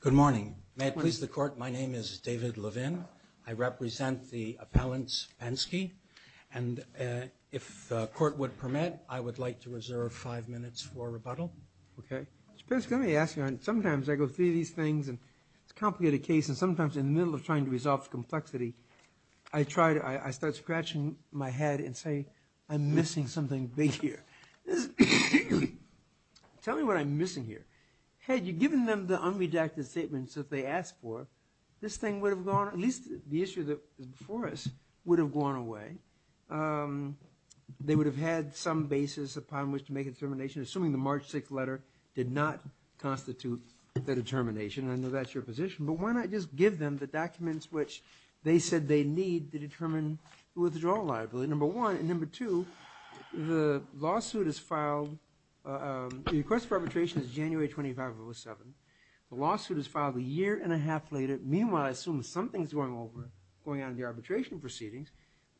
Good morning. May it please the Court, my name is David Levin. I represent the appellant Spensky, and if the Court would permit, I would like to reserve five minutes for rebuttal. Okay. Mr. Spensky, let me ask you, sometimes I go through these things and it's a complicated case and sometimes in the middle of trying to resolve the complexity, I start scratching my head and say, I'm missing something big here. Tell me what I'm missing here. Had you given them the unredacted statements that they asked for, this thing would have gone, at least the issue that is before us, would have gone away. They would have had some basis upon which to make a determination, assuming the March 6th letter did not constitute the withdrawal liability. Why not just give them the documents which they said they need to determine the withdrawal liability, number one. And number two, the lawsuit is filed, the request for arbitration is January 25 of 2007. The lawsuit is filed a year and a half later. Meanwhile, I assume something's going on in the arbitration proceedings,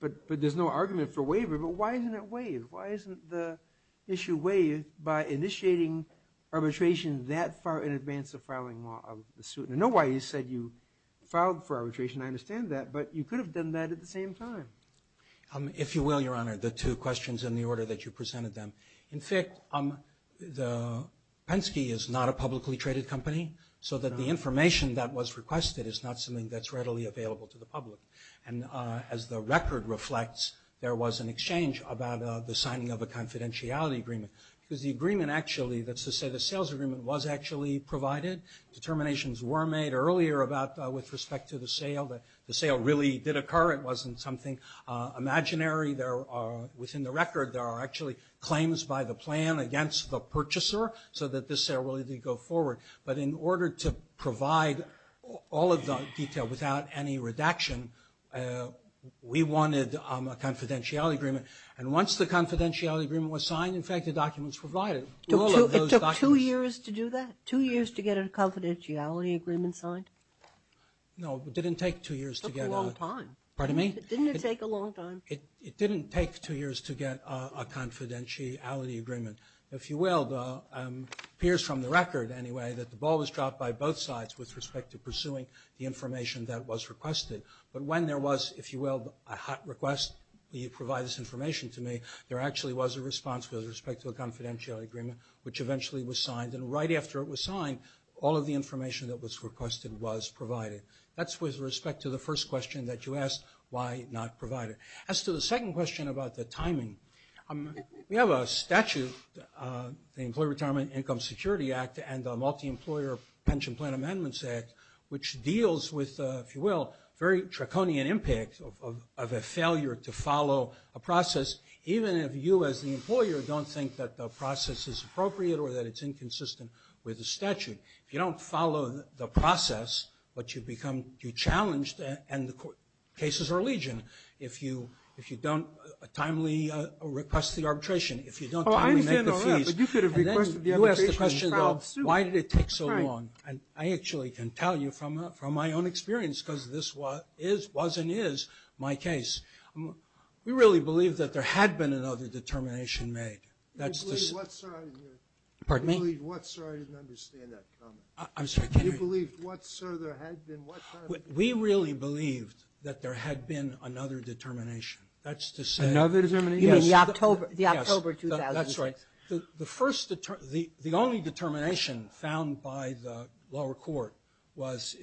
but there's no argument for waiver. But why isn't it waived? Why isn't the issue waived by initiating arbitration that far in advance of filing a lawsuit? I know why you said you filed for arbitration, I understand that, but you could have done that at the same time. If you will, Your Honor, the two questions in the order that you presented them. In fact, the Penske is not a publicly traded company, so that the information that was requested is not something that's readily available to the public. And as the record reflects, there was an exchange about the signing of a confidentiality agreement. Because the agreement actually, that's to say the sales agreement, was actually provided. Determinations were made earlier about, with respect to the sale, that the sale really did occur. It wasn't something imaginary. There are, within the record, there are actually claims by the plan against the purchaser, so that this sale really did go forward. But in order to provide all of the detail without any redaction, we wanted a confidentiality agreement. And once the It took two years to do that? Two years to get a confidentiality agreement signed? No, it didn't take two years to get a... It took a long time. Pardon me? Didn't it take a long time? It didn't take two years to get a confidentiality agreement. If you will, it appears from the record, anyway, that the ball was dropped by both sides with respect to pursuing the information that was requested. But when there was, if you will, a hot request, you provide this information to me, there actually was a response with respect to a confidentiality agreement, which eventually was signed. And right after it was signed, all of the information that was requested was provided. That's with respect to the first question that you asked, why not provide it? As to the second question about the timing, we have a statute, the Employee Retirement Income Security Act and the Multi-Employer Pension Plan Amendments Act, which deals with, if you will, very draconian impact of a failure to follow a process, even if you as the employer don't think that the process is appropriate or that it's inconsistent with the statute. If you don't follow the process, but you become... You're challenged and the cases are legion. If you don't timely request the arbitration, if you don't timely make the fees... Oh, I understand all that, but you could have requested the arbitration in trial of suit. Why did it take so long? And I actually can tell you from my own experience, because this was and is my case. We really believe that there had been another determination made. You believe what, sir? I didn't understand that comment. I'm sorry, can you... You believe what, sir? There had been... We really believed that there had been another determination. That's to say... Another determination? Yes. You mean the October 2006? That's right. The only determination found by the lower court was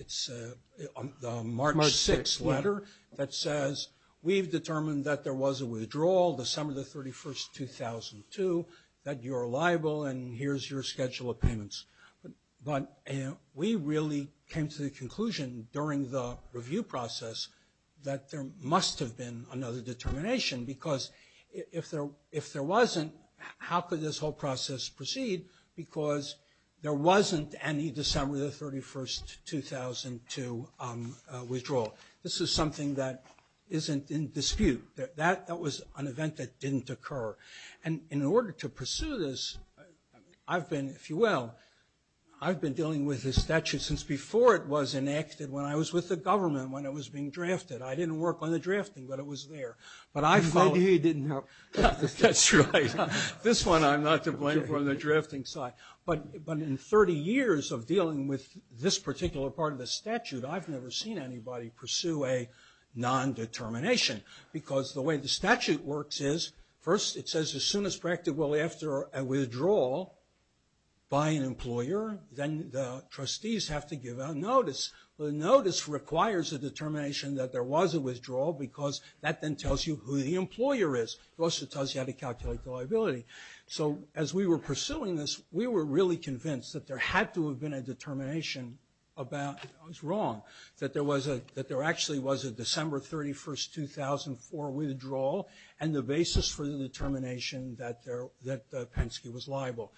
the March 6 letter that says, we've determined that there was a withdrawal December the 31st, 2002, that you're liable and here's your schedule of payments. But we really came to the conclusion during the process proceed because there wasn't any December the 31st, 2002, withdrawal. This is something that isn't in dispute. That was an event that didn't occur. And in order to pursue this, I've been, if you will, I've been dealing with this statute since before it was enacted when I was with the government when it was being drafted. I didn't work on the drafting, but it was there. But I followed... Maybe he didn't help. That's right. This one I'm not to blame for the drafting side. But in 30 years of dealing with this particular part of the statute, I've never seen anybody pursue a non-determination. Because the way the statute works is, first it says as soon as practically after a withdrawal by an employer, then the trustees have to give a notice. The notice requires a determination that there was a withdrawal because that then tells you who the employer is. It also tells you how to calculate the liability. So as we were pursuing this, we were really convinced that there had to have been a determination about I was wrong, that there actually was a December 31st, 2004 withdrawal and the basis for the determination that Penske was liable.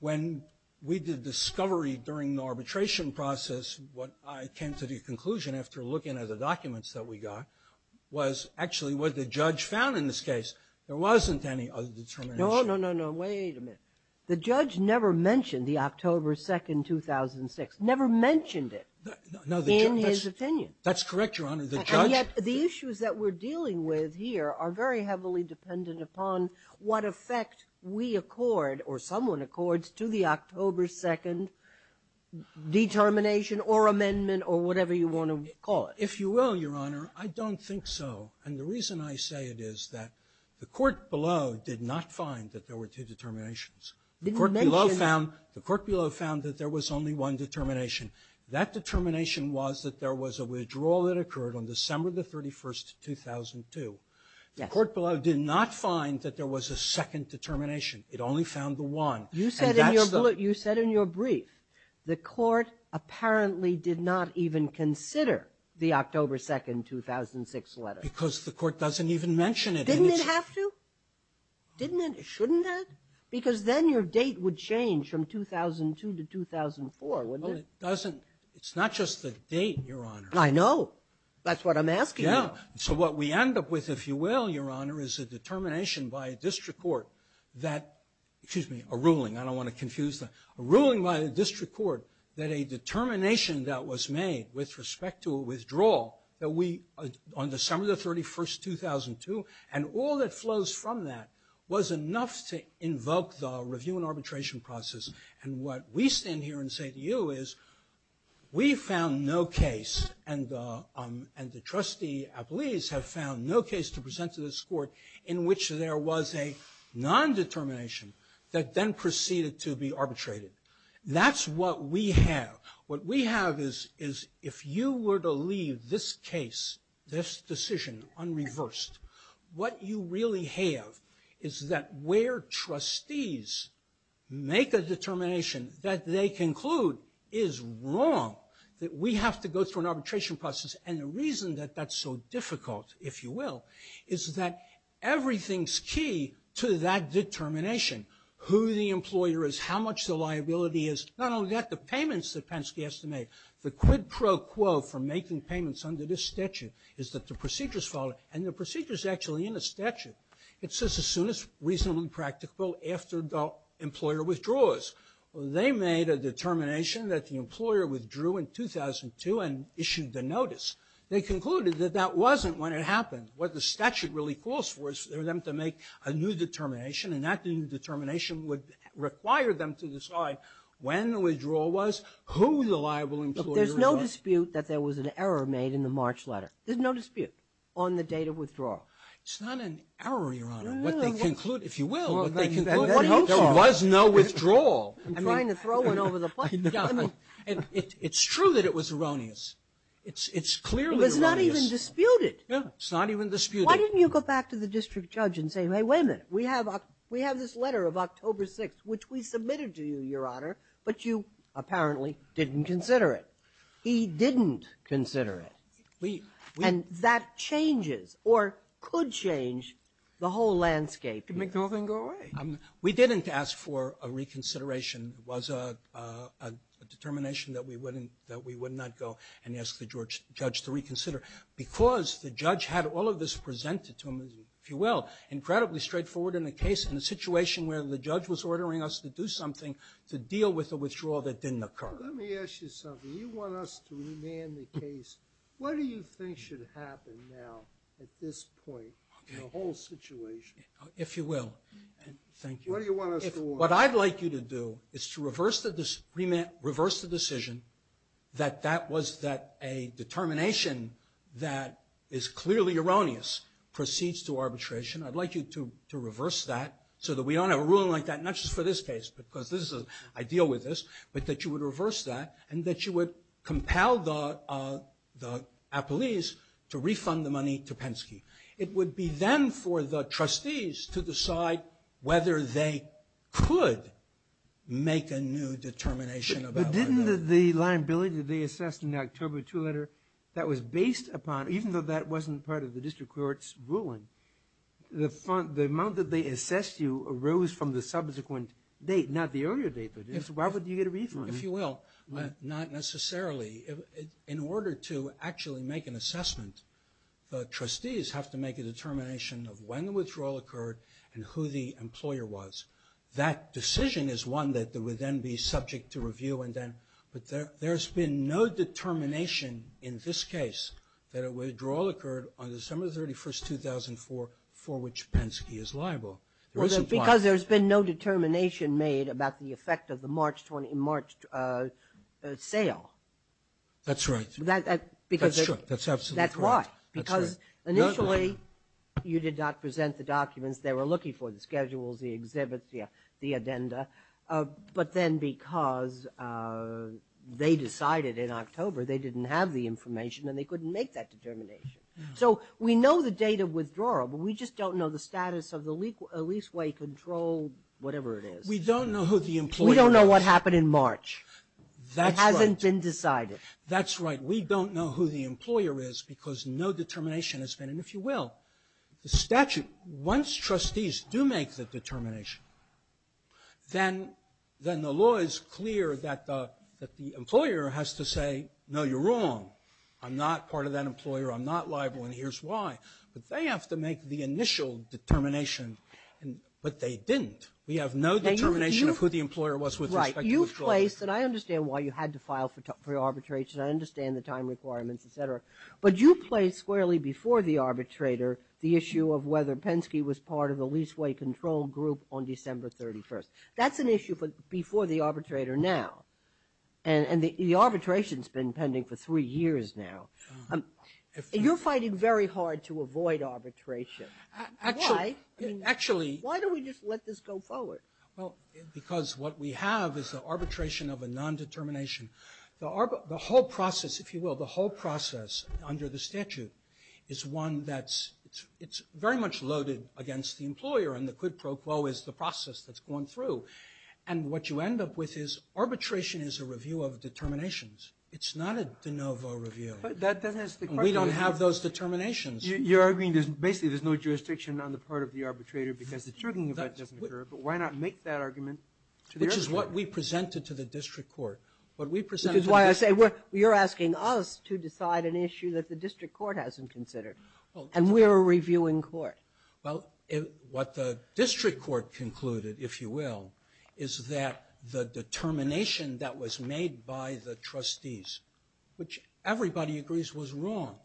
When we did discovery during the arbitration process, what I came to the conclusion after looking at the documents that we got was actually what the judge found in this case. There wasn't any other determination. No, no, no, no. Wait a minute. The judge never mentioned the October 2nd, 2006. Never mentioned it in his opinion. That's correct, Your Honor. And yet the issues that we're dealing with here are very heavily dependent upon what effect we accord or someone accords to the October 2nd determination or amendment or whatever you want to call it. If you will, Your Honor, I don't think so. And the reason I say it is that the court below did not find that there were two determinations. The court below found that there was only one determination. That determination was that there was a withdrawal that occurred on December 31st, 2002. The court below did not find that there was a second determination. It only found the one. You said in your brief the court apparently did not even consider the October 2nd, 2006 letter. Because the court doesn't even mention it. Didn't it have to? Didn't it? Shouldn't it? Because then your date would change from 2002 to 2004, wouldn't it? Well, it doesn't. It's not just the date, Your Honor. I know. That's what I'm asking you. Yeah. So what we end up with, if you will, Your Honor, is a determination by a district court that, excuse me, a ruling. I don't want to confuse that. A ruling by a district court that a determination that was made with respect to a withdrawal that we, on December 31st, 2002, and all that flows from that was enough to invoke the review and arbitration process. And what we stand here and say to you is we found no case, and the trustee, I believe, has found no case to present to this court in which there was a non-determination that then proceeded to be arbitrated. That's what we have. What we have is if you were to leave this case, this decision, unreversed, what you really have is that where trustees make a determination that they conclude is wrong, that we have to go through an arbitration process, and the reason that that's so difficult, if you will, is that everything's key to that determination, who the employer is, how much the liability is, not only that, the payments that Penske has to make, the quid pro quo for making payments under this statute is that the procedure's followed, and the procedure's actually in the statute. It says as soon as reasonable and practical after the employer withdraws. They made a determination that the employer withdrew in 2002 and issued the notice. They concluded that that wasn't when it happened. What the statute really calls for is for them to make a new determination, and that new determination would require them to decide when the withdrawal was, who the liable employer was. There's no dispute that there was an error made in the March letter. There's no dispute on the date of withdrawal. It's not an error, Your Honor. What they conclude, if you will, what they conclude is there was no withdrawal. I'm trying to throw one over the punch. It's true that it was erroneous. It's clearly erroneous. It was not even disputed. It's not even disputed. Why didn't you go back to the district judge and say, hey, wait a minute. We have this letter of October 6th, which we submitted to you, Your Honor, but you apparently didn't consider it. He didn't consider it. And that changes or could change the whole landscape. It could make the whole thing go away. We didn't ask for a reconsideration. It was a determination that we wouldn't, that we would not go and ask the judge to reconsider because the judge had all of this presented to him, if you will, incredibly straightforward in a case in a situation where the judge was ordering us to do something to deal with a withdrawal that didn't occur. Let me ask you something. Do you want us to remand the case? What do you think should happen now at this point in the whole situation? If you will. Thank you. What do you want us to order? What I'd like you to do is to reverse the decision that that was a determination that is clearly erroneous, proceeds to arbitration. I'd like you to reverse that so that we don't have a ruling like that, not just for this case because I deal with this, but that you would reverse that and that you would compel the appellees to refund the money to Penske. It would be then for the trustees to decide whether they could make a new determination about that. But didn't the liability that they assessed in the October 2 letter that was based upon, even though that wasn't part of the district court's ruling, the amount that they assessed you arose from the subsequent date, not the earlier date. Why would you get a refund? If you will, not necessarily. In order to actually make an assessment, the trustees have to make a determination of when the withdrawal occurred and who the employer was. That decision is one that would then be subject to review. But there's been no determination in this case that a withdrawal occurred on December 31, 2004, for which Penske is liable. Because there's been no determination made about the effect of the March sale. That's right. That's true. That's absolutely correct. That's why. Because initially you did not present the documents they were looking for, the schedules, the exhibits, the addenda. But then because they decided in October they didn't have the information and they couldn't make that determination. So we know the date of withdrawal, but we just don't know the status of the leaseway control, whatever it is. We don't know who the employer is. We don't know what happened in March. That hasn't been decided. That's right. We don't know who the employer is because no determination has been made, if you will. The statute, once trustees do make the determination, then the law is clear that the employer has to say, no, you're wrong. I'm not part of that employer, I'm not liable, and here's why. But they have to make the initial determination, but they didn't. We have no determination of who the employer was with respect to withdrawal. Right. You placed, and I understand why you had to file for arbitration, I understand the time requirements, et cetera, but you placed squarely before the arbitrator the issue of whether Penske was part of the leaseway control group on December 31st. That's an issue before the arbitrator now, and the arbitration has been pending for three years now. You're fighting very hard to avoid arbitration. Why? Actually. Why don't we just let this go forward? Well, because what we have is the arbitration of a nondetermination. The whole process, if you will, the whole process under the statute is one that's very much loaded against the employer, and the quid pro quo is the process that's gone through. And what you end up with is arbitration is a review of determinations. It's not a de novo review. We don't have those determinations. You're arguing basically there's no jurisdiction on the part of the employer because the chugging event doesn't occur, but why not make that argument to the arbitrator? Which is what we presented to the district court. Which is why I say you're asking us to decide an issue that the district court hasn't considered, and we're a reviewing court. Well, what the district court concluded, if you will, is that the determination that was made by the trustees, which everybody agrees was wrong,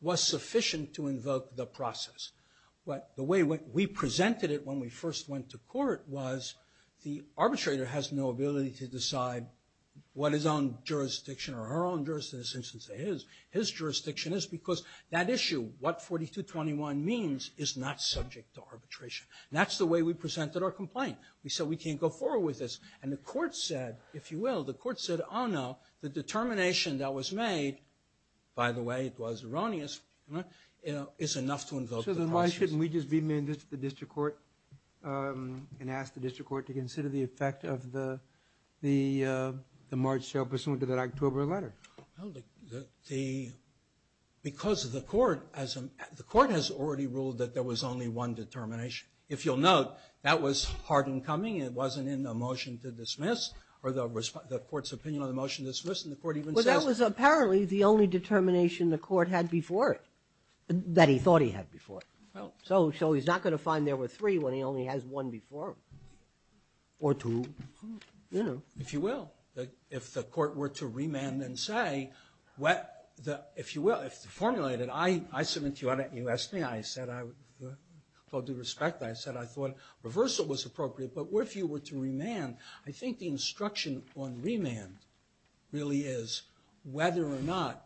was sufficient to invoke the process. But the way we presented it when we first went to court was the arbitrator has no ability to decide what his own jurisdiction or her own jurisdiction, say his, his jurisdiction is because that issue, what 4221 means is not subject to arbitration. That's the way we presented our complaint. We said we can't go forward with this, and the court said, if you will, the court said, oh, no, the determination that was made, by the way, it was erroneous, is enough to invoke the process. Well, then why shouldn't we just be the district court and ask the district court to consider the effect of the, the March sale pursuant to that October letter? Well, the, because the court, the court has already ruled that there was only one determination. If you'll note, that was hard and coming, and it wasn't in the motion to dismiss or the court's opinion on the motion to dismiss, and the court even says. Well, that was apparently the only determination the court had before it, that he thought he had before. So, so he's not going to find there were three when he only has one before, or two, you know. If you will, if the court were to remand and say, what the, if you will, if the formulated, I, I submit to you, you asked me, I said, I, with all due respect, I said, I thought reversal was appropriate, but if you were to remand, I think the instruction on remand really is whether or not,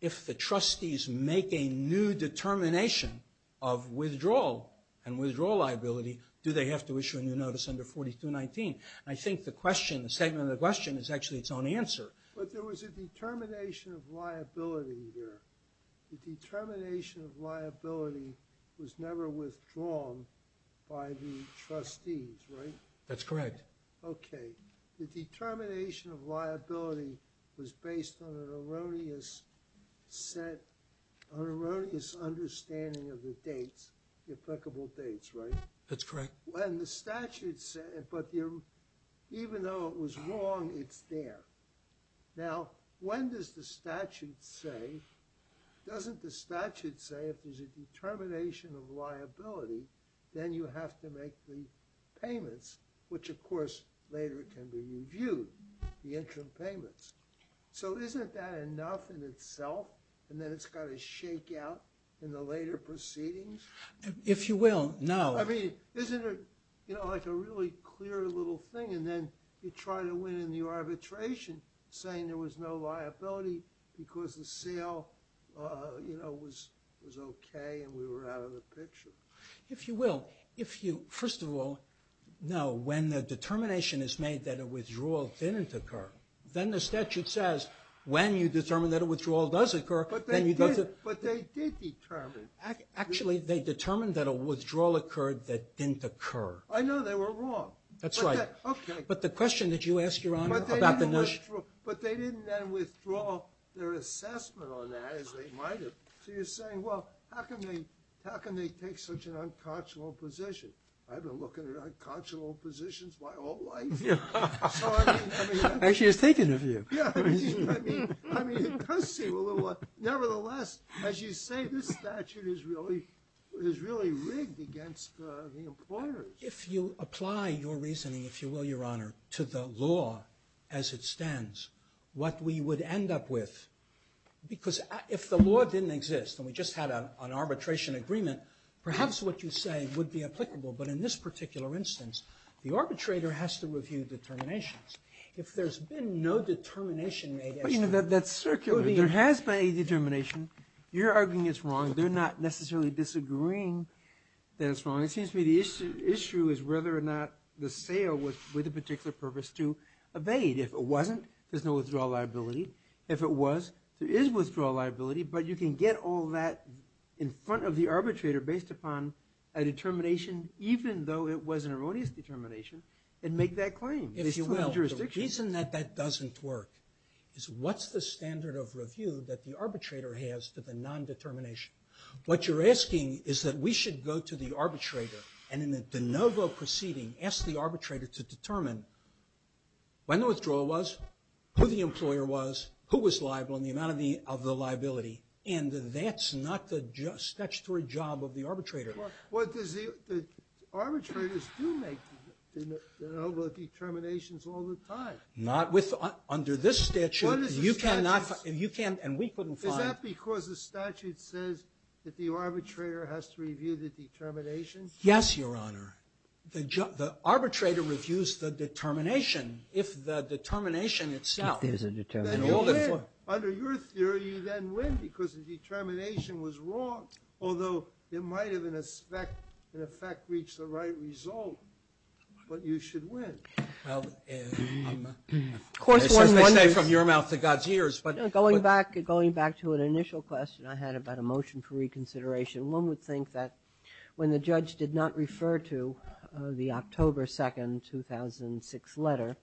if the trustees make a new determination of withdrawal and withdrawal liability, do they have to issue a new notice under 4219? I think the question, the statement of the question is actually its own answer. But there was a determination of liability there. The determination of liability was never withdrawn by the trustees, right? That's correct. Okay. The determination of liability was based on an erroneous set, an erroneous understanding of the dates, the applicable dates, right? That's correct. When the statute said, but even though it was wrong, it's there. Now, when does the statute say, doesn't the statute say if there's a determination of liability, then you have to make the payments, which of course later can be reviewed, the interim payments. So isn't that enough in itself? And then it's got to shake out in the later proceedings? If you will, no. I mean, isn't it, you know, like a really clear little thing, and then you try to win in the arbitration saying there was no liability because the sale, you know, was, was okay and we were out of the picture. If you will, if you, first of all, no. When the determination is made that a withdrawal didn't occur, then the statute says when you determine that a withdrawal does occur, then you go to. But they did determine. Actually, they determined that a withdrawal occurred that didn't occur. I know they were wrong. That's right. Okay. But the question that you asked, Your Honor, about the notion. But they didn't then withdraw their assessment on that as they might have. So you're saying, well, how can they, how can they take such an unconscionable position? I've been looking at unconscionable positions my whole life. Actually, it's taken of you. I mean, it does seem a little. Nevertheless, as you say, this statute is really, is really rigged against the employers. If you apply your reasoning, if you will, Your Honor, to the law as it stands, what we would end up with, because if the law didn't exist and we just had an arbitration agreement, perhaps what you say would be applicable. But in this particular instance, the arbitrator has to review determinations. If there's been no determination made. But, you know, that's circular. There has been a determination. You're arguing it's wrong. They're not necessarily disagreeing that it's wrong. It seems to me the issue is whether or not the sale was with a particular purpose to evade. If it wasn't, there's no withdrawal liability. If it was, there is withdrawal liability. But you can get all that in front of the arbitrator based upon a determination, even though it was an erroneous determination, and make that claim, if you will, in jurisdiction. The reason that that doesn't work is what's the standard of review that the arbitrator has to the non-determination? What you're asking is that we should go to the arbitrator and in a de novo proceeding, ask the arbitrator to determine when the withdrawal was, who the employer was, who was liable, and the amount of the liability. And that's not the statutory job of the arbitrator. But does the arbitrators do make de novo determinations all the time? Not with, under this statute. You cannot, you can't, and we couldn't find. Is that because the statute says that the arbitrator has to review the determinations? Yes, Your Honor. The arbitrator reviews the determination. If the determination itself. If there's a determination. Then you win. Under your theory, you then win because the determination was wrong, although it might have, in effect, reached the right result. But you should win. Well, of course, one wonders. As they say, from your mouth to God's ears. Going back to an initial question I had about a motion for reconsideration, one would think that when the judge did not refer to the October 2nd, 2006 letter,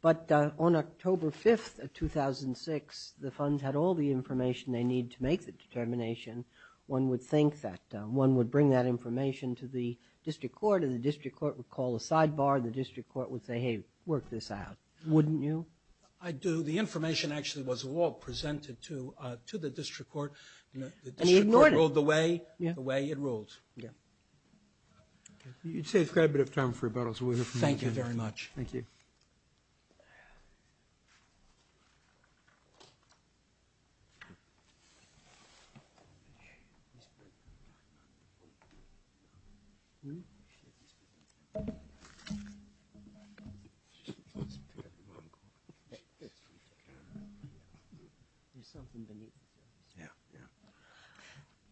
but on October 5th of 2006, the funds had all the information they need to make the determination. One would think that one would bring that information to the district court, and the district court would call a sidebar, and the district court would say, hey, work this out. Wouldn't you? I do. The information actually was all presented to the district court. The district court ruled the way it ruled. You'd save quite a bit of time for rebuttals. Thank you very much. Thank you.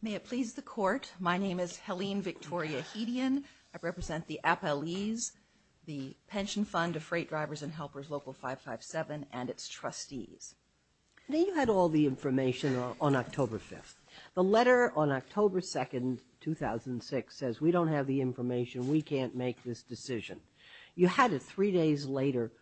May it please the court, my name is Helene Victoria Hedian. I represent the appellees, the Pension Fund of Freight Drivers and Helpers, Local 557, and its trustees. You had all the information on October 5th. The letter on October 2nd, 2006, says we don't have the information. We can't make this decision. You had it three days later.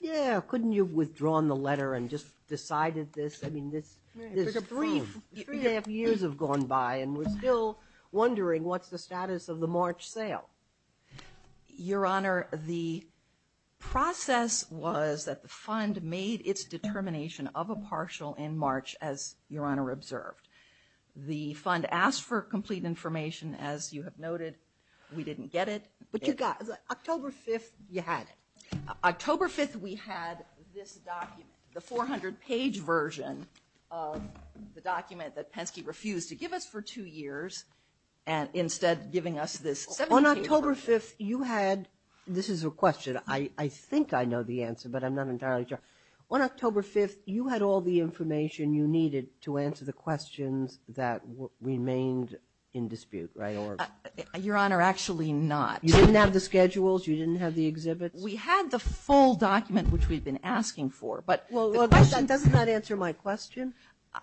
Yeah, couldn't you have withdrawn the letter and just decided this? I mean, three and a half years have gone by, and we're still wondering what's the status of the March sale. Your Honor, the process was that the fund made its determination of a partial in March, as Your Honor observed. The fund asked for complete information. As you have noted, we didn't get it. But you got it. October 5th, you had it. October 5th, we had this document, the 400-page version of the document that Penske refused to give us for two years, and instead giving us this 17-page version. On October 5th, you had... This is a question. I think I know the answer, but I'm not entirely sure. On October 5th, you had all the information you needed to answer the questions that remained in dispute, right? Your Honor, actually not. You didn't have the schedules? You didn't have the exhibits? We had the full document, which we'd been asking for, but the question... Well, doesn't that answer my question?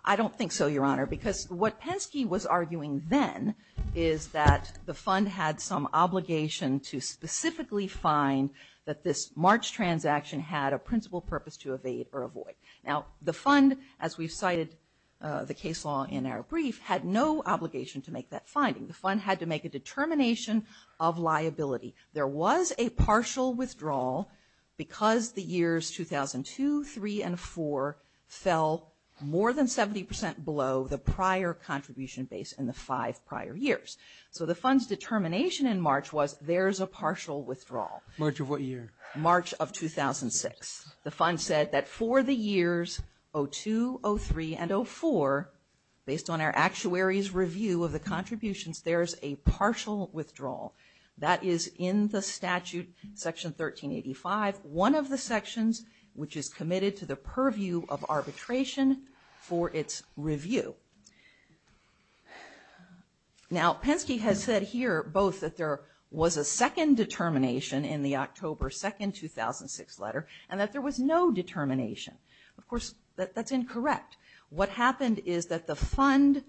I don't think so, Your Honor, because what Penske was arguing then is that the fund had some obligation to specifically find that this March transaction had a principal purpose to evade or avoid. Now, the fund, as we've cited the case law in our brief, had no obligation to make that finding. The fund had to make a determination of liability. There was a partial withdrawal because the years 2002, 2003, and 2004 fell more than 70% below the prior contribution base in the five prior years. So the fund's determination in March was there's a partial withdrawal. March of what year? March of 2006. The fund said that for the years 2002, 2003, and 2004, based on our actuary's review of the contributions, there's a partial withdrawal. That is in the statute, Section 1385, one of the sections which is committed to the purview of arbitration for its review. Now, Penske has said here both that there was a second determination in the October 2, 2006 letter and that there was no determination. Of course, that's incorrect. What happened is that the fund,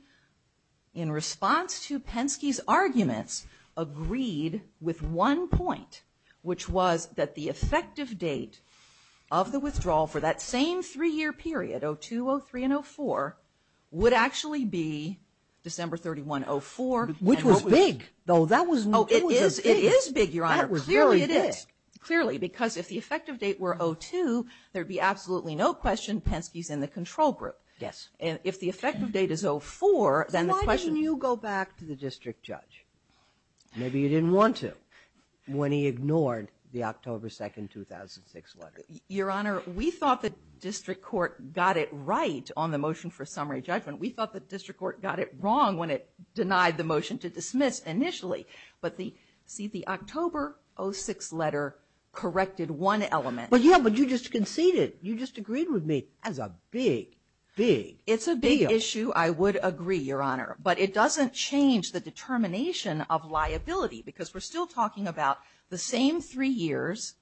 in response to Penske's arguments, agreed with one point, which was that the effective date of the withdrawal for that same three-year period, 2002, 2003, and 2004, would actually be December 31, 2004. Which was big, though. Oh, it is big, Your Honor. Clearly it is. Clearly, because if the effective date were 2002, there'd be absolutely no question Penske's in the control group. Yes. And if the effective date is 2004, then the question... Why didn't you go back to the district judge? Maybe you didn't want to when he ignored the October 2, 2006 letter. Your Honor, we thought the district court got it right on the motion for summary judgment. We thought the district court got it wrong when it denied the motion to dismiss initially. But see, the October 06 letter corrected one element. But you just conceded. You just agreed with me. That's a big, big deal. It's a big issue. I would agree, Your Honor. But it doesn't change the determination of liability. Because we're still talking about the same three years,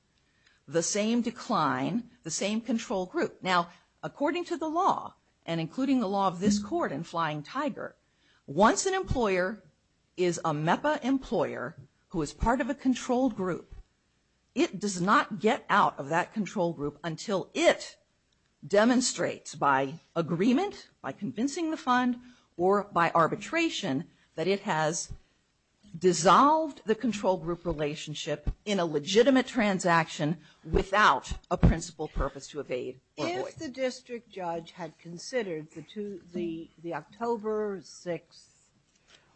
the same decline, the same control group. Now, according to the law, and including the law of this court in Flying Tiger, once an employer is a MEPA employer who is part of a control group, it does not get out of that control group until it demonstrates by agreement, by convincing the fund, or by arbitration, that it has dissolved the control group relationship in a legitimate transaction without a principal purpose to evade or avoid. If the district judge had considered the October 06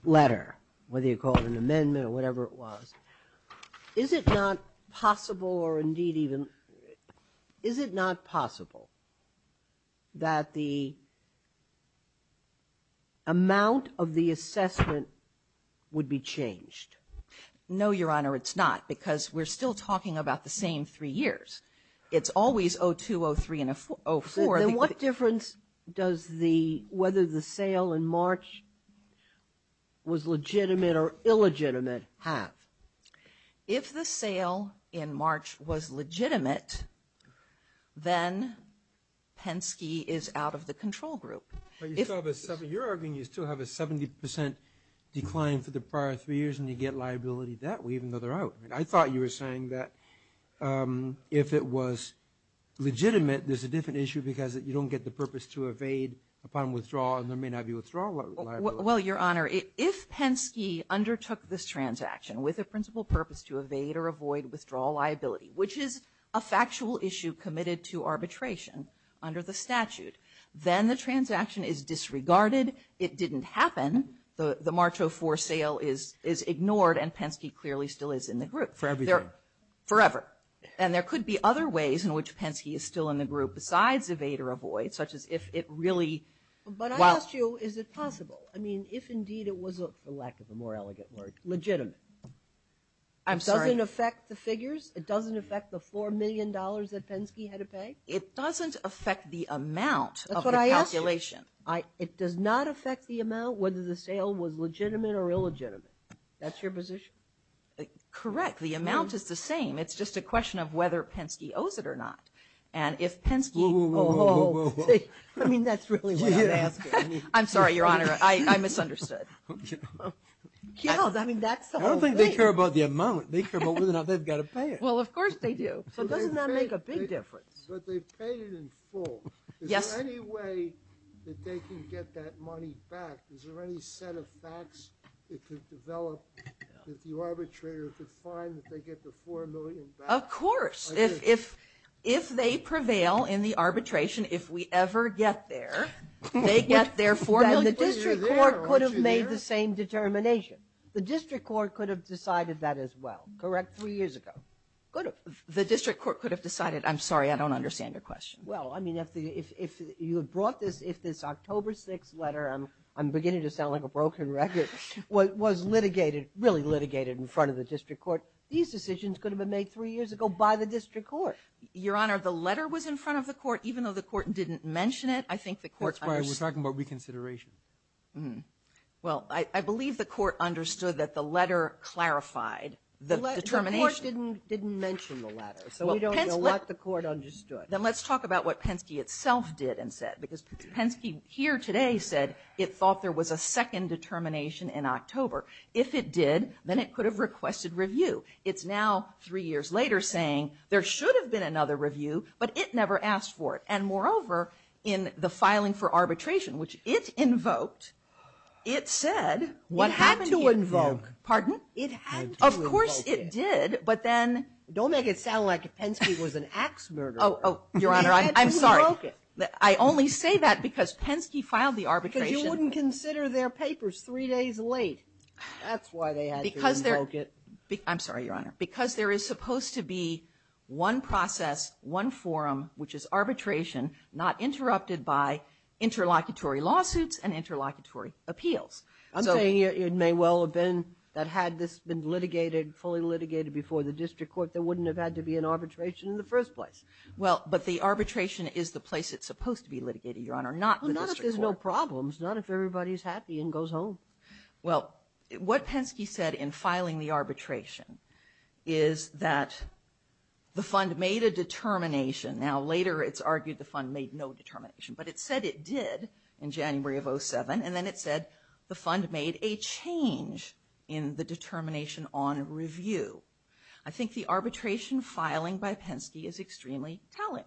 letter, whether you call it an amendment or whatever it was, is it not possible or indeed even... amount of the assessment would be changed? No, Your Honor, it's not. Because we're still talking about the same three years. It's always 02, 03, and 04. Then what difference does the... whether the sale in March was legitimate or illegitimate have? If the sale in March was legitimate, then Penske is out of the control group. But you're arguing you still have a 70% decline for the prior three years, and you get liability that way even though they're out. I thought you were saying that if it was legitimate, there's a different issue because you don't get the purpose to evade upon withdrawal, and there may not be withdrawal liability. Well, Your Honor, if Penske undertook this transaction with a principal purpose to evade or avoid withdrawal liability, which is a factual issue committed to arbitration under the statute, then the transaction is disregarded. It didn't happen. The March 04 sale is ignored, and Penske clearly still is in the group. Forever. Forever. And there could be other ways in which Penske is still in the group besides evade or avoid, such as if it really... But I asked you, is it possible? I mean, if indeed it was, for lack of a more elegant word, legitimate. I'm sorry. It doesn't affect the figures? It doesn't affect the $4 million that Penske had to pay? It doesn't affect the amount of the calculation. That's what I asked you. It does not affect the amount whether the sale was legitimate or illegitimate. That's your position? Correct. The amount is the same. It's just a question of whether Penske owes it or not. And if Penske... Whoa, whoa, whoa. I mean, that's really what I'm asking. I'm sorry, Your Honor. I misunderstood. I don't think they care about the amount. I don't think they care about whether or not they've got to pay it. Well, of course they do. So doesn't that make a big difference? But they've paid it in full. Yes. Is there any way that they can get that money back? Is there any set of facts that could develop that the arbitrator could find that they get the $4 million back? Of course. If they prevail in the arbitration, if we ever get there, they get their $4 million back. And the district court could have made the same determination. The district court could have decided that as well, correct? Three years ago. The district court could have decided, I'm sorry, I don't understand your question. Well, I mean, if you had brought this, if this October 6th letter, I'm beginning to sound like a broken record, was litigated, really litigated in front of the district court, these decisions could have been made three years ago by the district court. Your Honor, the letter was in front of the court, even though the court didn't mention it. That's why we're talking about reconsideration. Well, I believe the court understood that the letter clarified the determination. The court didn't mention the letter, so we don't know what the court understood. Then let's talk about what Penske itself did and said, because Penske here today said it thought there was a second determination in October. If it did, then it could have requested review. It's now three years later saying there should have been another review, but it never asked for it. And moreover, in the filing for arbitration, which it invoked, it said what happened here. It had to invoke. Pardon? It had to invoke it. Of course it did, but then. Don't make it sound like Penske was an ax murderer. Oh, Your Honor, I'm sorry. It had to invoke it. I only say that because Penske filed the arbitration. But you wouldn't consider their papers three days late. That's why they had to invoke it. I'm sorry, Your Honor. Because there is supposed to be one process, one forum, which is arbitration not interrupted by interlocutory lawsuits and interlocutory appeals. I'm saying it may well have been that had this been litigated, fully litigated before the district court, there wouldn't have had to be an arbitration in the first place. Well, but the arbitration is the place it's supposed to be litigated, Your Honor, not the district court. Well, not if there's no problems, not if everybody's happy and goes home. Well, what Penske said in filing the arbitration is that the fund made a determination. Now, later it's argued the fund made no determination, but it said it did in January of 07, and then it said the fund made a change in the determination on review. I think the arbitration filing by Penske is extremely telling.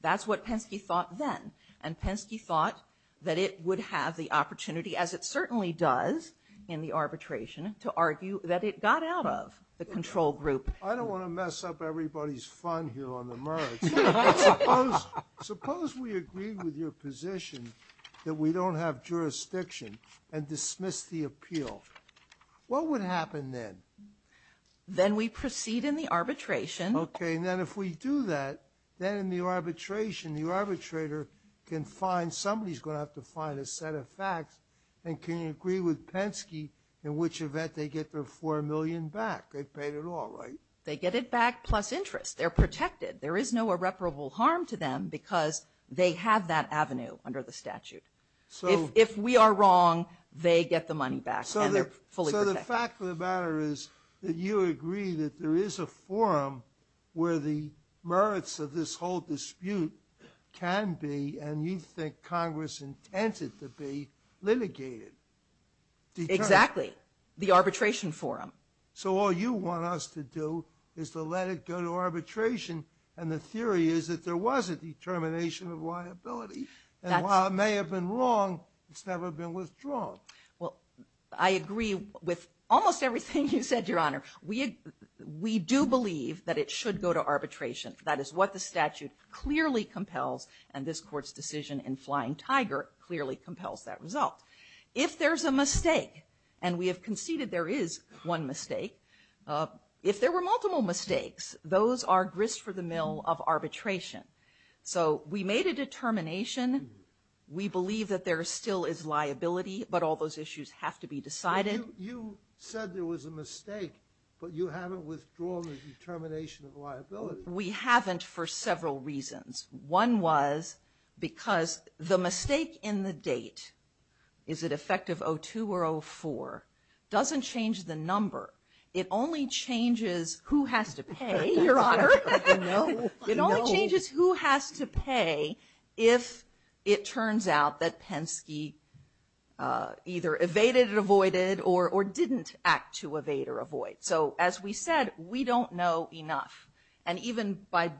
That's what Penske thought then, and Penske thought that it would have the opportunity, as it certainly does in the arbitration, to argue that it got out of the control group. I don't want to mess up everybody's fun here on the merits. Suppose we agree with your position that we don't have jurisdiction and dismiss the appeal. What would happen then? Then we proceed in the arbitration. Okay, and then if we do that, then in the arbitration the arbitrator can find Somebody's going to have to find a set of facts, and can agree with Penske in which event they get their $4 million back. They've paid it all, right? They get it back plus interest. They're protected. There is no irreparable harm to them because they have that avenue under the statute. If we are wrong, they get the money back, and they're fully protected. So the fact of the matter is that you agree that there is a forum where the merits of this whole dispute can be, and you think Congress intended to be, litigated. Exactly, the arbitration forum. So all you want us to do is to let it go to arbitration, and the theory is that there was a determination of liability. And while it may have been wrong, it's never been withdrawn. Well, I agree with almost everything you said, Your Honor. We do believe that it should go to arbitration. That is what the statute clearly compels and this Court's decision in Flying Tiger clearly compels that result. If there's a mistake, and we have conceded there is one mistake, if there were multiple mistakes, those are grist for the mill of arbitration. So we made a determination. We believe that there still is liability, but all those issues have to be decided. You said there was a mistake, but you haven't withdrawn the determination of liability. We haven't for several reasons. One was because the mistake in the date, is it effective 02 or 04, doesn't change the number. It only changes who has to pay, Your Honor. It only changes who has to pay if it turns out that Penske either evaded or avoided or didn't act to evade or avoid. So as we said, we don't know enough. And even by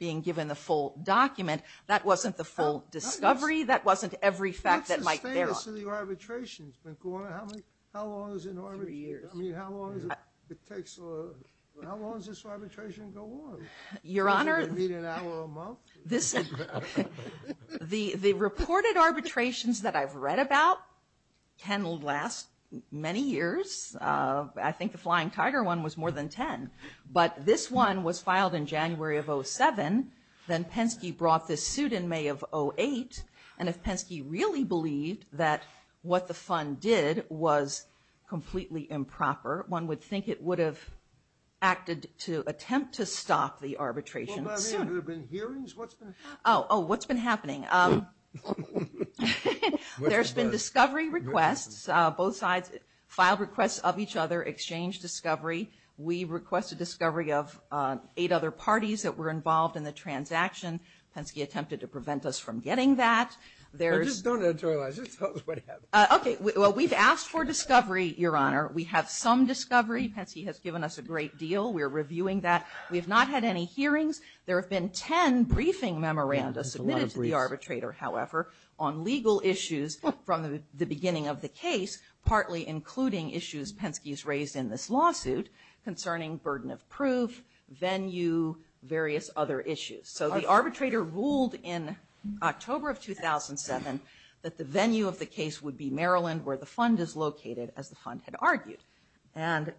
being given the full document, that wasn't the full discovery. That wasn't every fact that might bear on. That's the status of the arbitrations. How long is an arbitration? Three years. How long does this arbitration go on? Your Honor. Does it meet an hour a month? The reported arbitrations that I've read about can last many years. I think the Flying Tiger one was more than 10. But this one was filed in January of 07. Then Penske brought this suit in May of 08. And if Penske really believed that what the fund did was completely improper, one would think it would have acted to attempt to stop the arbitration soon. Have there been hearings? Oh, what's been happening? There's been discovery requests. Both sides filed requests of each other, exchanged discovery. We requested discovery of eight other parties that were involved in the transaction. Penske attempted to prevent us from getting that. Just don't editorialize. Just tell us what happened. Okay. Well, we've asked for discovery, Your Honor. We have some discovery. Penske has given us a great deal. We are reviewing that. We have not had any hearings. There have been 10 briefing memorandums submitted to the arbitrator, however, on legal issues from the beginning of the case, partly including issues Penske has raised in this lawsuit concerning burden of proof, venue, various other issues. So the arbitrator ruled in October of 2007 that the venue of the case would be Maryland where the fund is located, as the fund had argued. And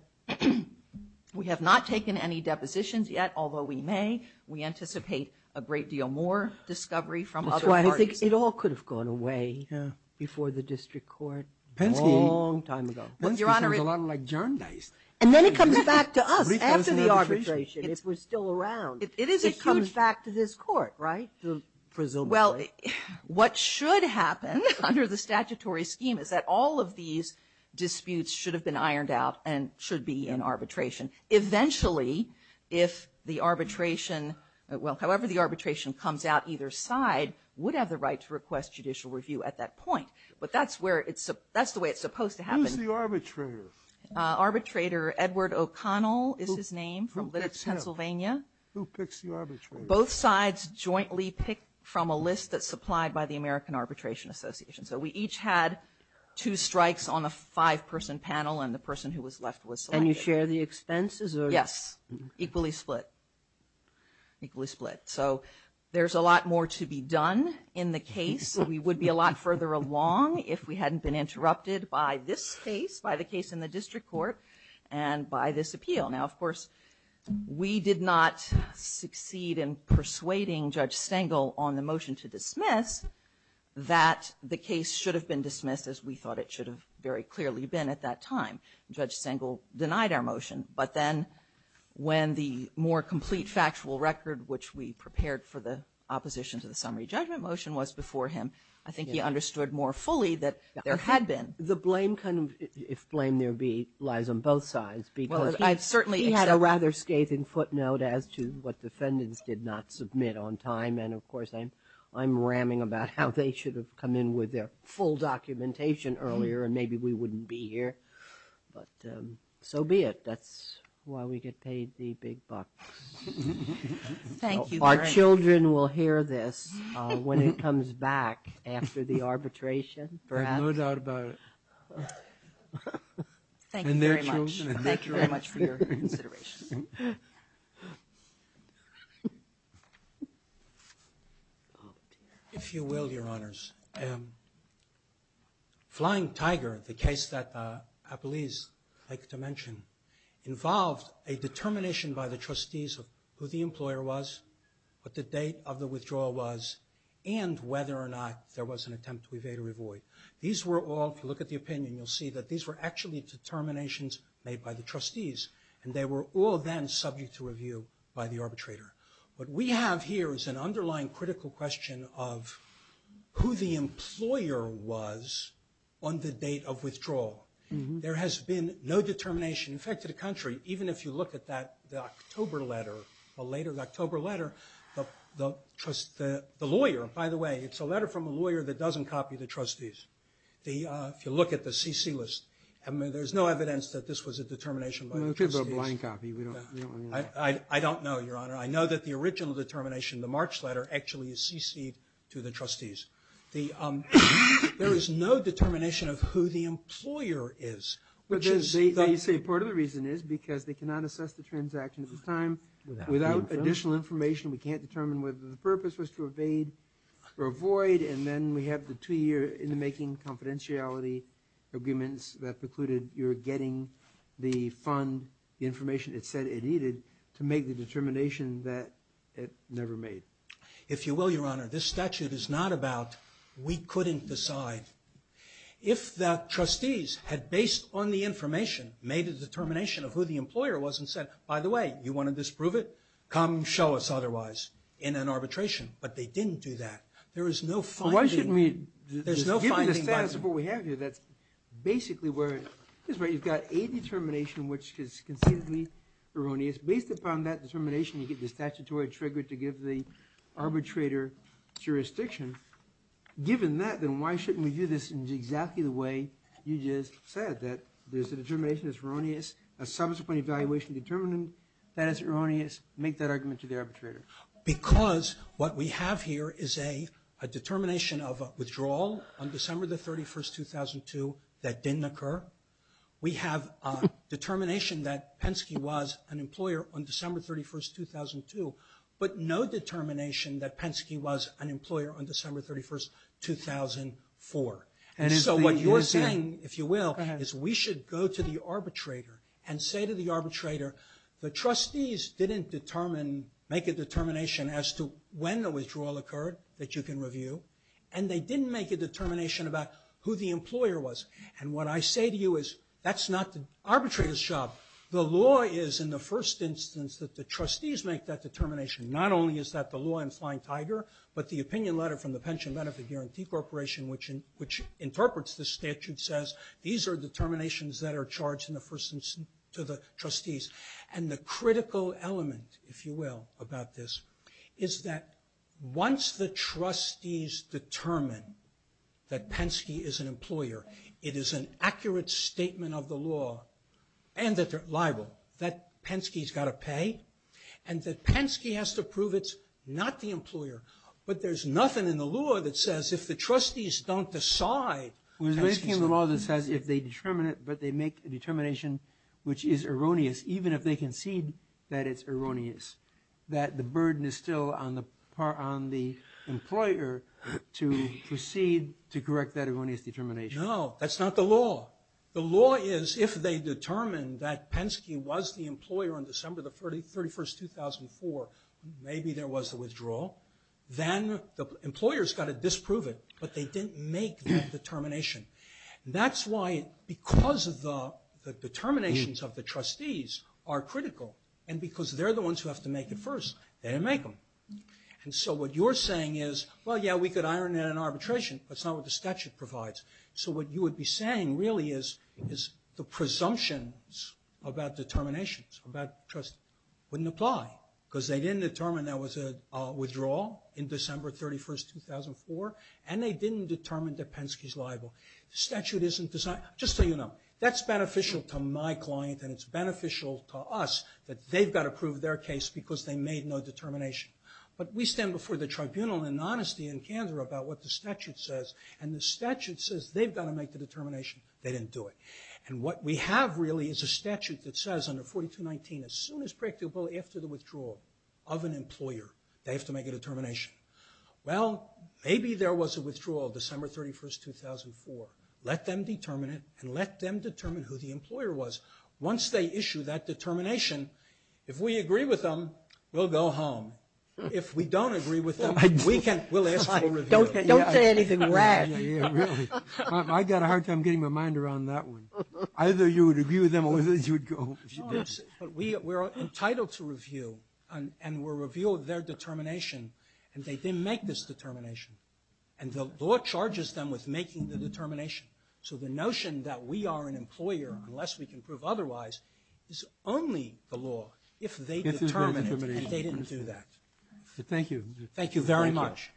we have not taken any depositions yet, although we may. We anticipate a great deal more discovery from other parties. That's why I think it all could have gone away before the district court. Penske? A long time ago. Penske seems a lot like John Dice. And then it comes back to us. After the arbitration, if we're still around, it comes back to this court, right? Presumably. Well, what should happen under the statutory scheme is that all of these disputes should have been ironed out and should be in arbitration. Eventually, if the arbitration, well, however the arbitration comes out, either side would have the right to request judicial review at that point. But that's the way it's supposed to happen. Who's the arbitrator? Arbitrator Edward O'Connell is his name from Lytton, Pennsylvania. Who picks the arbitrator? Both sides jointly pick from a list that's supplied by the American Arbitration Association. So we each had two strikes on a five-person panel and the person who was left was selected. And you share the expenses? Yes. Equally split. Equally split. So there's a lot more to be done in the case. So we would be a lot further along if we hadn't been interrupted by this case, by the case in the district court, and by this appeal. Now, of course, we did not succeed in persuading Judge Stengel on the motion to dismiss that the case should have been dismissed as we thought it should have very clearly been at that time. Judge Stengel denied our motion. But then when the more complete factual record, which we prepared for the opposition to the summary judgment motion was before him, I think he understood more fully that there had been. The blame, if blame there be, lies on both sides because he had a rather scathing footnote as to what defendants did not submit on time. And, of course, I'm ramming about how they should have come in with their full documentation earlier and maybe we wouldn't be here. But so be it. That's why we get paid the big bucks. Thank you. Our children will hear this when it comes back after the arbitration perhaps. I have no doubt about it. Thank you very much. And their children. Thank you very much for your consideration. If you will, Your Honors. Flying Tiger, the case that Apolise liked to mention, involved a determination by the trustees of who the employer was, what the date of the withdrawal was, and whether or not there was an attempt to evade or avoid. These were all, if you look at the opinion, you'll see that these were actually determinations made by the trustees. And they were all then subject to review by the arbitrator. What we have here is an underlying critical question of who the employer was on the date of withdrawal. There has been no determination. In fact, to the country, even if you look at that October letter, the later October letter, the lawyer, by the way, it's a letter from a lawyer that doesn't copy the trustees. If you look at the CC list, there's no evidence that this was a determination by the trustees. We don't have a blind copy. I don't know, Your Honor. I know that the original determination, the March letter, actually is CC'd to the trustees. There is no determination of who the employer is. But then you say part of the reason is because they cannot assess the transaction at this time without additional information. We can't determine whether the purpose was to evade or avoid. And then we have the two-year in-the-making confidentiality agreements that precluded your getting the fund, the information it said it needed to make the determination that it never made. If you will, Your Honor, this statute is not about we couldn't decide. If the trustees had, based on the information, made a determination of who the employer was and said, by the way, you want to disprove it? Come show us otherwise in an arbitration. But they didn't do that. There is no finding. Given the status of what we have here, that's basically where you've got a determination which is conceivably erroneous. Based upon that determination, you get the statutory trigger to give the arbitrator jurisdiction. Given that, then why shouldn't we do this in exactly the way you just said, that there's a determination that's erroneous, a subsequent evaluation determinant that is erroneous? Make that argument to the arbitrator. Because what we have here is a determination of withdrawal on December the 31st, 2002, that didn't occur. We have a determination that Penske was an employer on December 31st, 2002, but no determination that Penske was an employer on December 31st, 2004. And so what you're saying, if you will, is we should go to the arbitrator and say to the arbitrator, the trustees didn't make a determination as to when the withdrawal occurred that you can review, and they didn't make a determination about who the employer was. And what I say to you is, that's not the arbitrator's job. The law is in the first instance that the trustees make that determination. Not only is that the law in Flying Tiger, but the opinion letter from the Pension Benefit Guarantee Corporation, which interprets the statute, says these are determinations that are charged in the first instance to the trustees. And the critical element, if you will, about this, is that once the trustees determine that Penske is an employer, it is an accurate statement of the law, and that they're liable, that Penske's got to pay, and that Penske has to prove it's not the employer. But there's nothing in the law that says, if the trustees don't decide that Penske's an employer... We're discussing the law that says if they determine it, but they make a determination which is erroneous, even if they concede that it's erroneous, that the burden is still on the employer to proceed to correct that erroneous determination. No, that's not the law. The law is, if they determine that Penske was the employer on December the 31st, 2004, maybe there was a withdrawal, then the employer's got to disprove it, but they didn't make that determination. That's why, because of the determinations of the trustees are critical, and because they're the ones who have to make it first, they didn't make them. And so what you're saying is, well, yeah, we could iron in an arbitration, but it's not what the statute provides. So what you would be saying really is the presumptions about determinations, about trust, wouldn't apply, because they didn't determine there was a withdrawal in December 31st, 2004, and they didn't determine that Penske's liable. The statute isn't designed... Just so you know, that's beneficial to my client, and it's beneficial to us that they've got to prove their case because they made no determination. But we stand before the tribunal in honesty and candor about what the statute says, and the statute says they've got to make the determination. They didn't do it. And what we have really is a statute that says under 4219, as soon as predictable after the withdrawal of an employer, they have to make a determination. Well, maybe there was a withdrawal December 31st, 2004. Let them determine it, and let them determine who the employer was. Once they issue that determination, if we agree with them, we'll go home. If we don't agree with them, we'll ask for a review. Don't say anything rash. I've got a hard time getting my mind around that one. Either you would agree with them, or you would go home. We're entitled to review, and we'll review their determination, and they didn't make this determination. And the law charges them with making the determination. So the notion that we are an employer, unless we can prove otherwise, is only the law if they determine it, and they didn't do that. Thank you very much.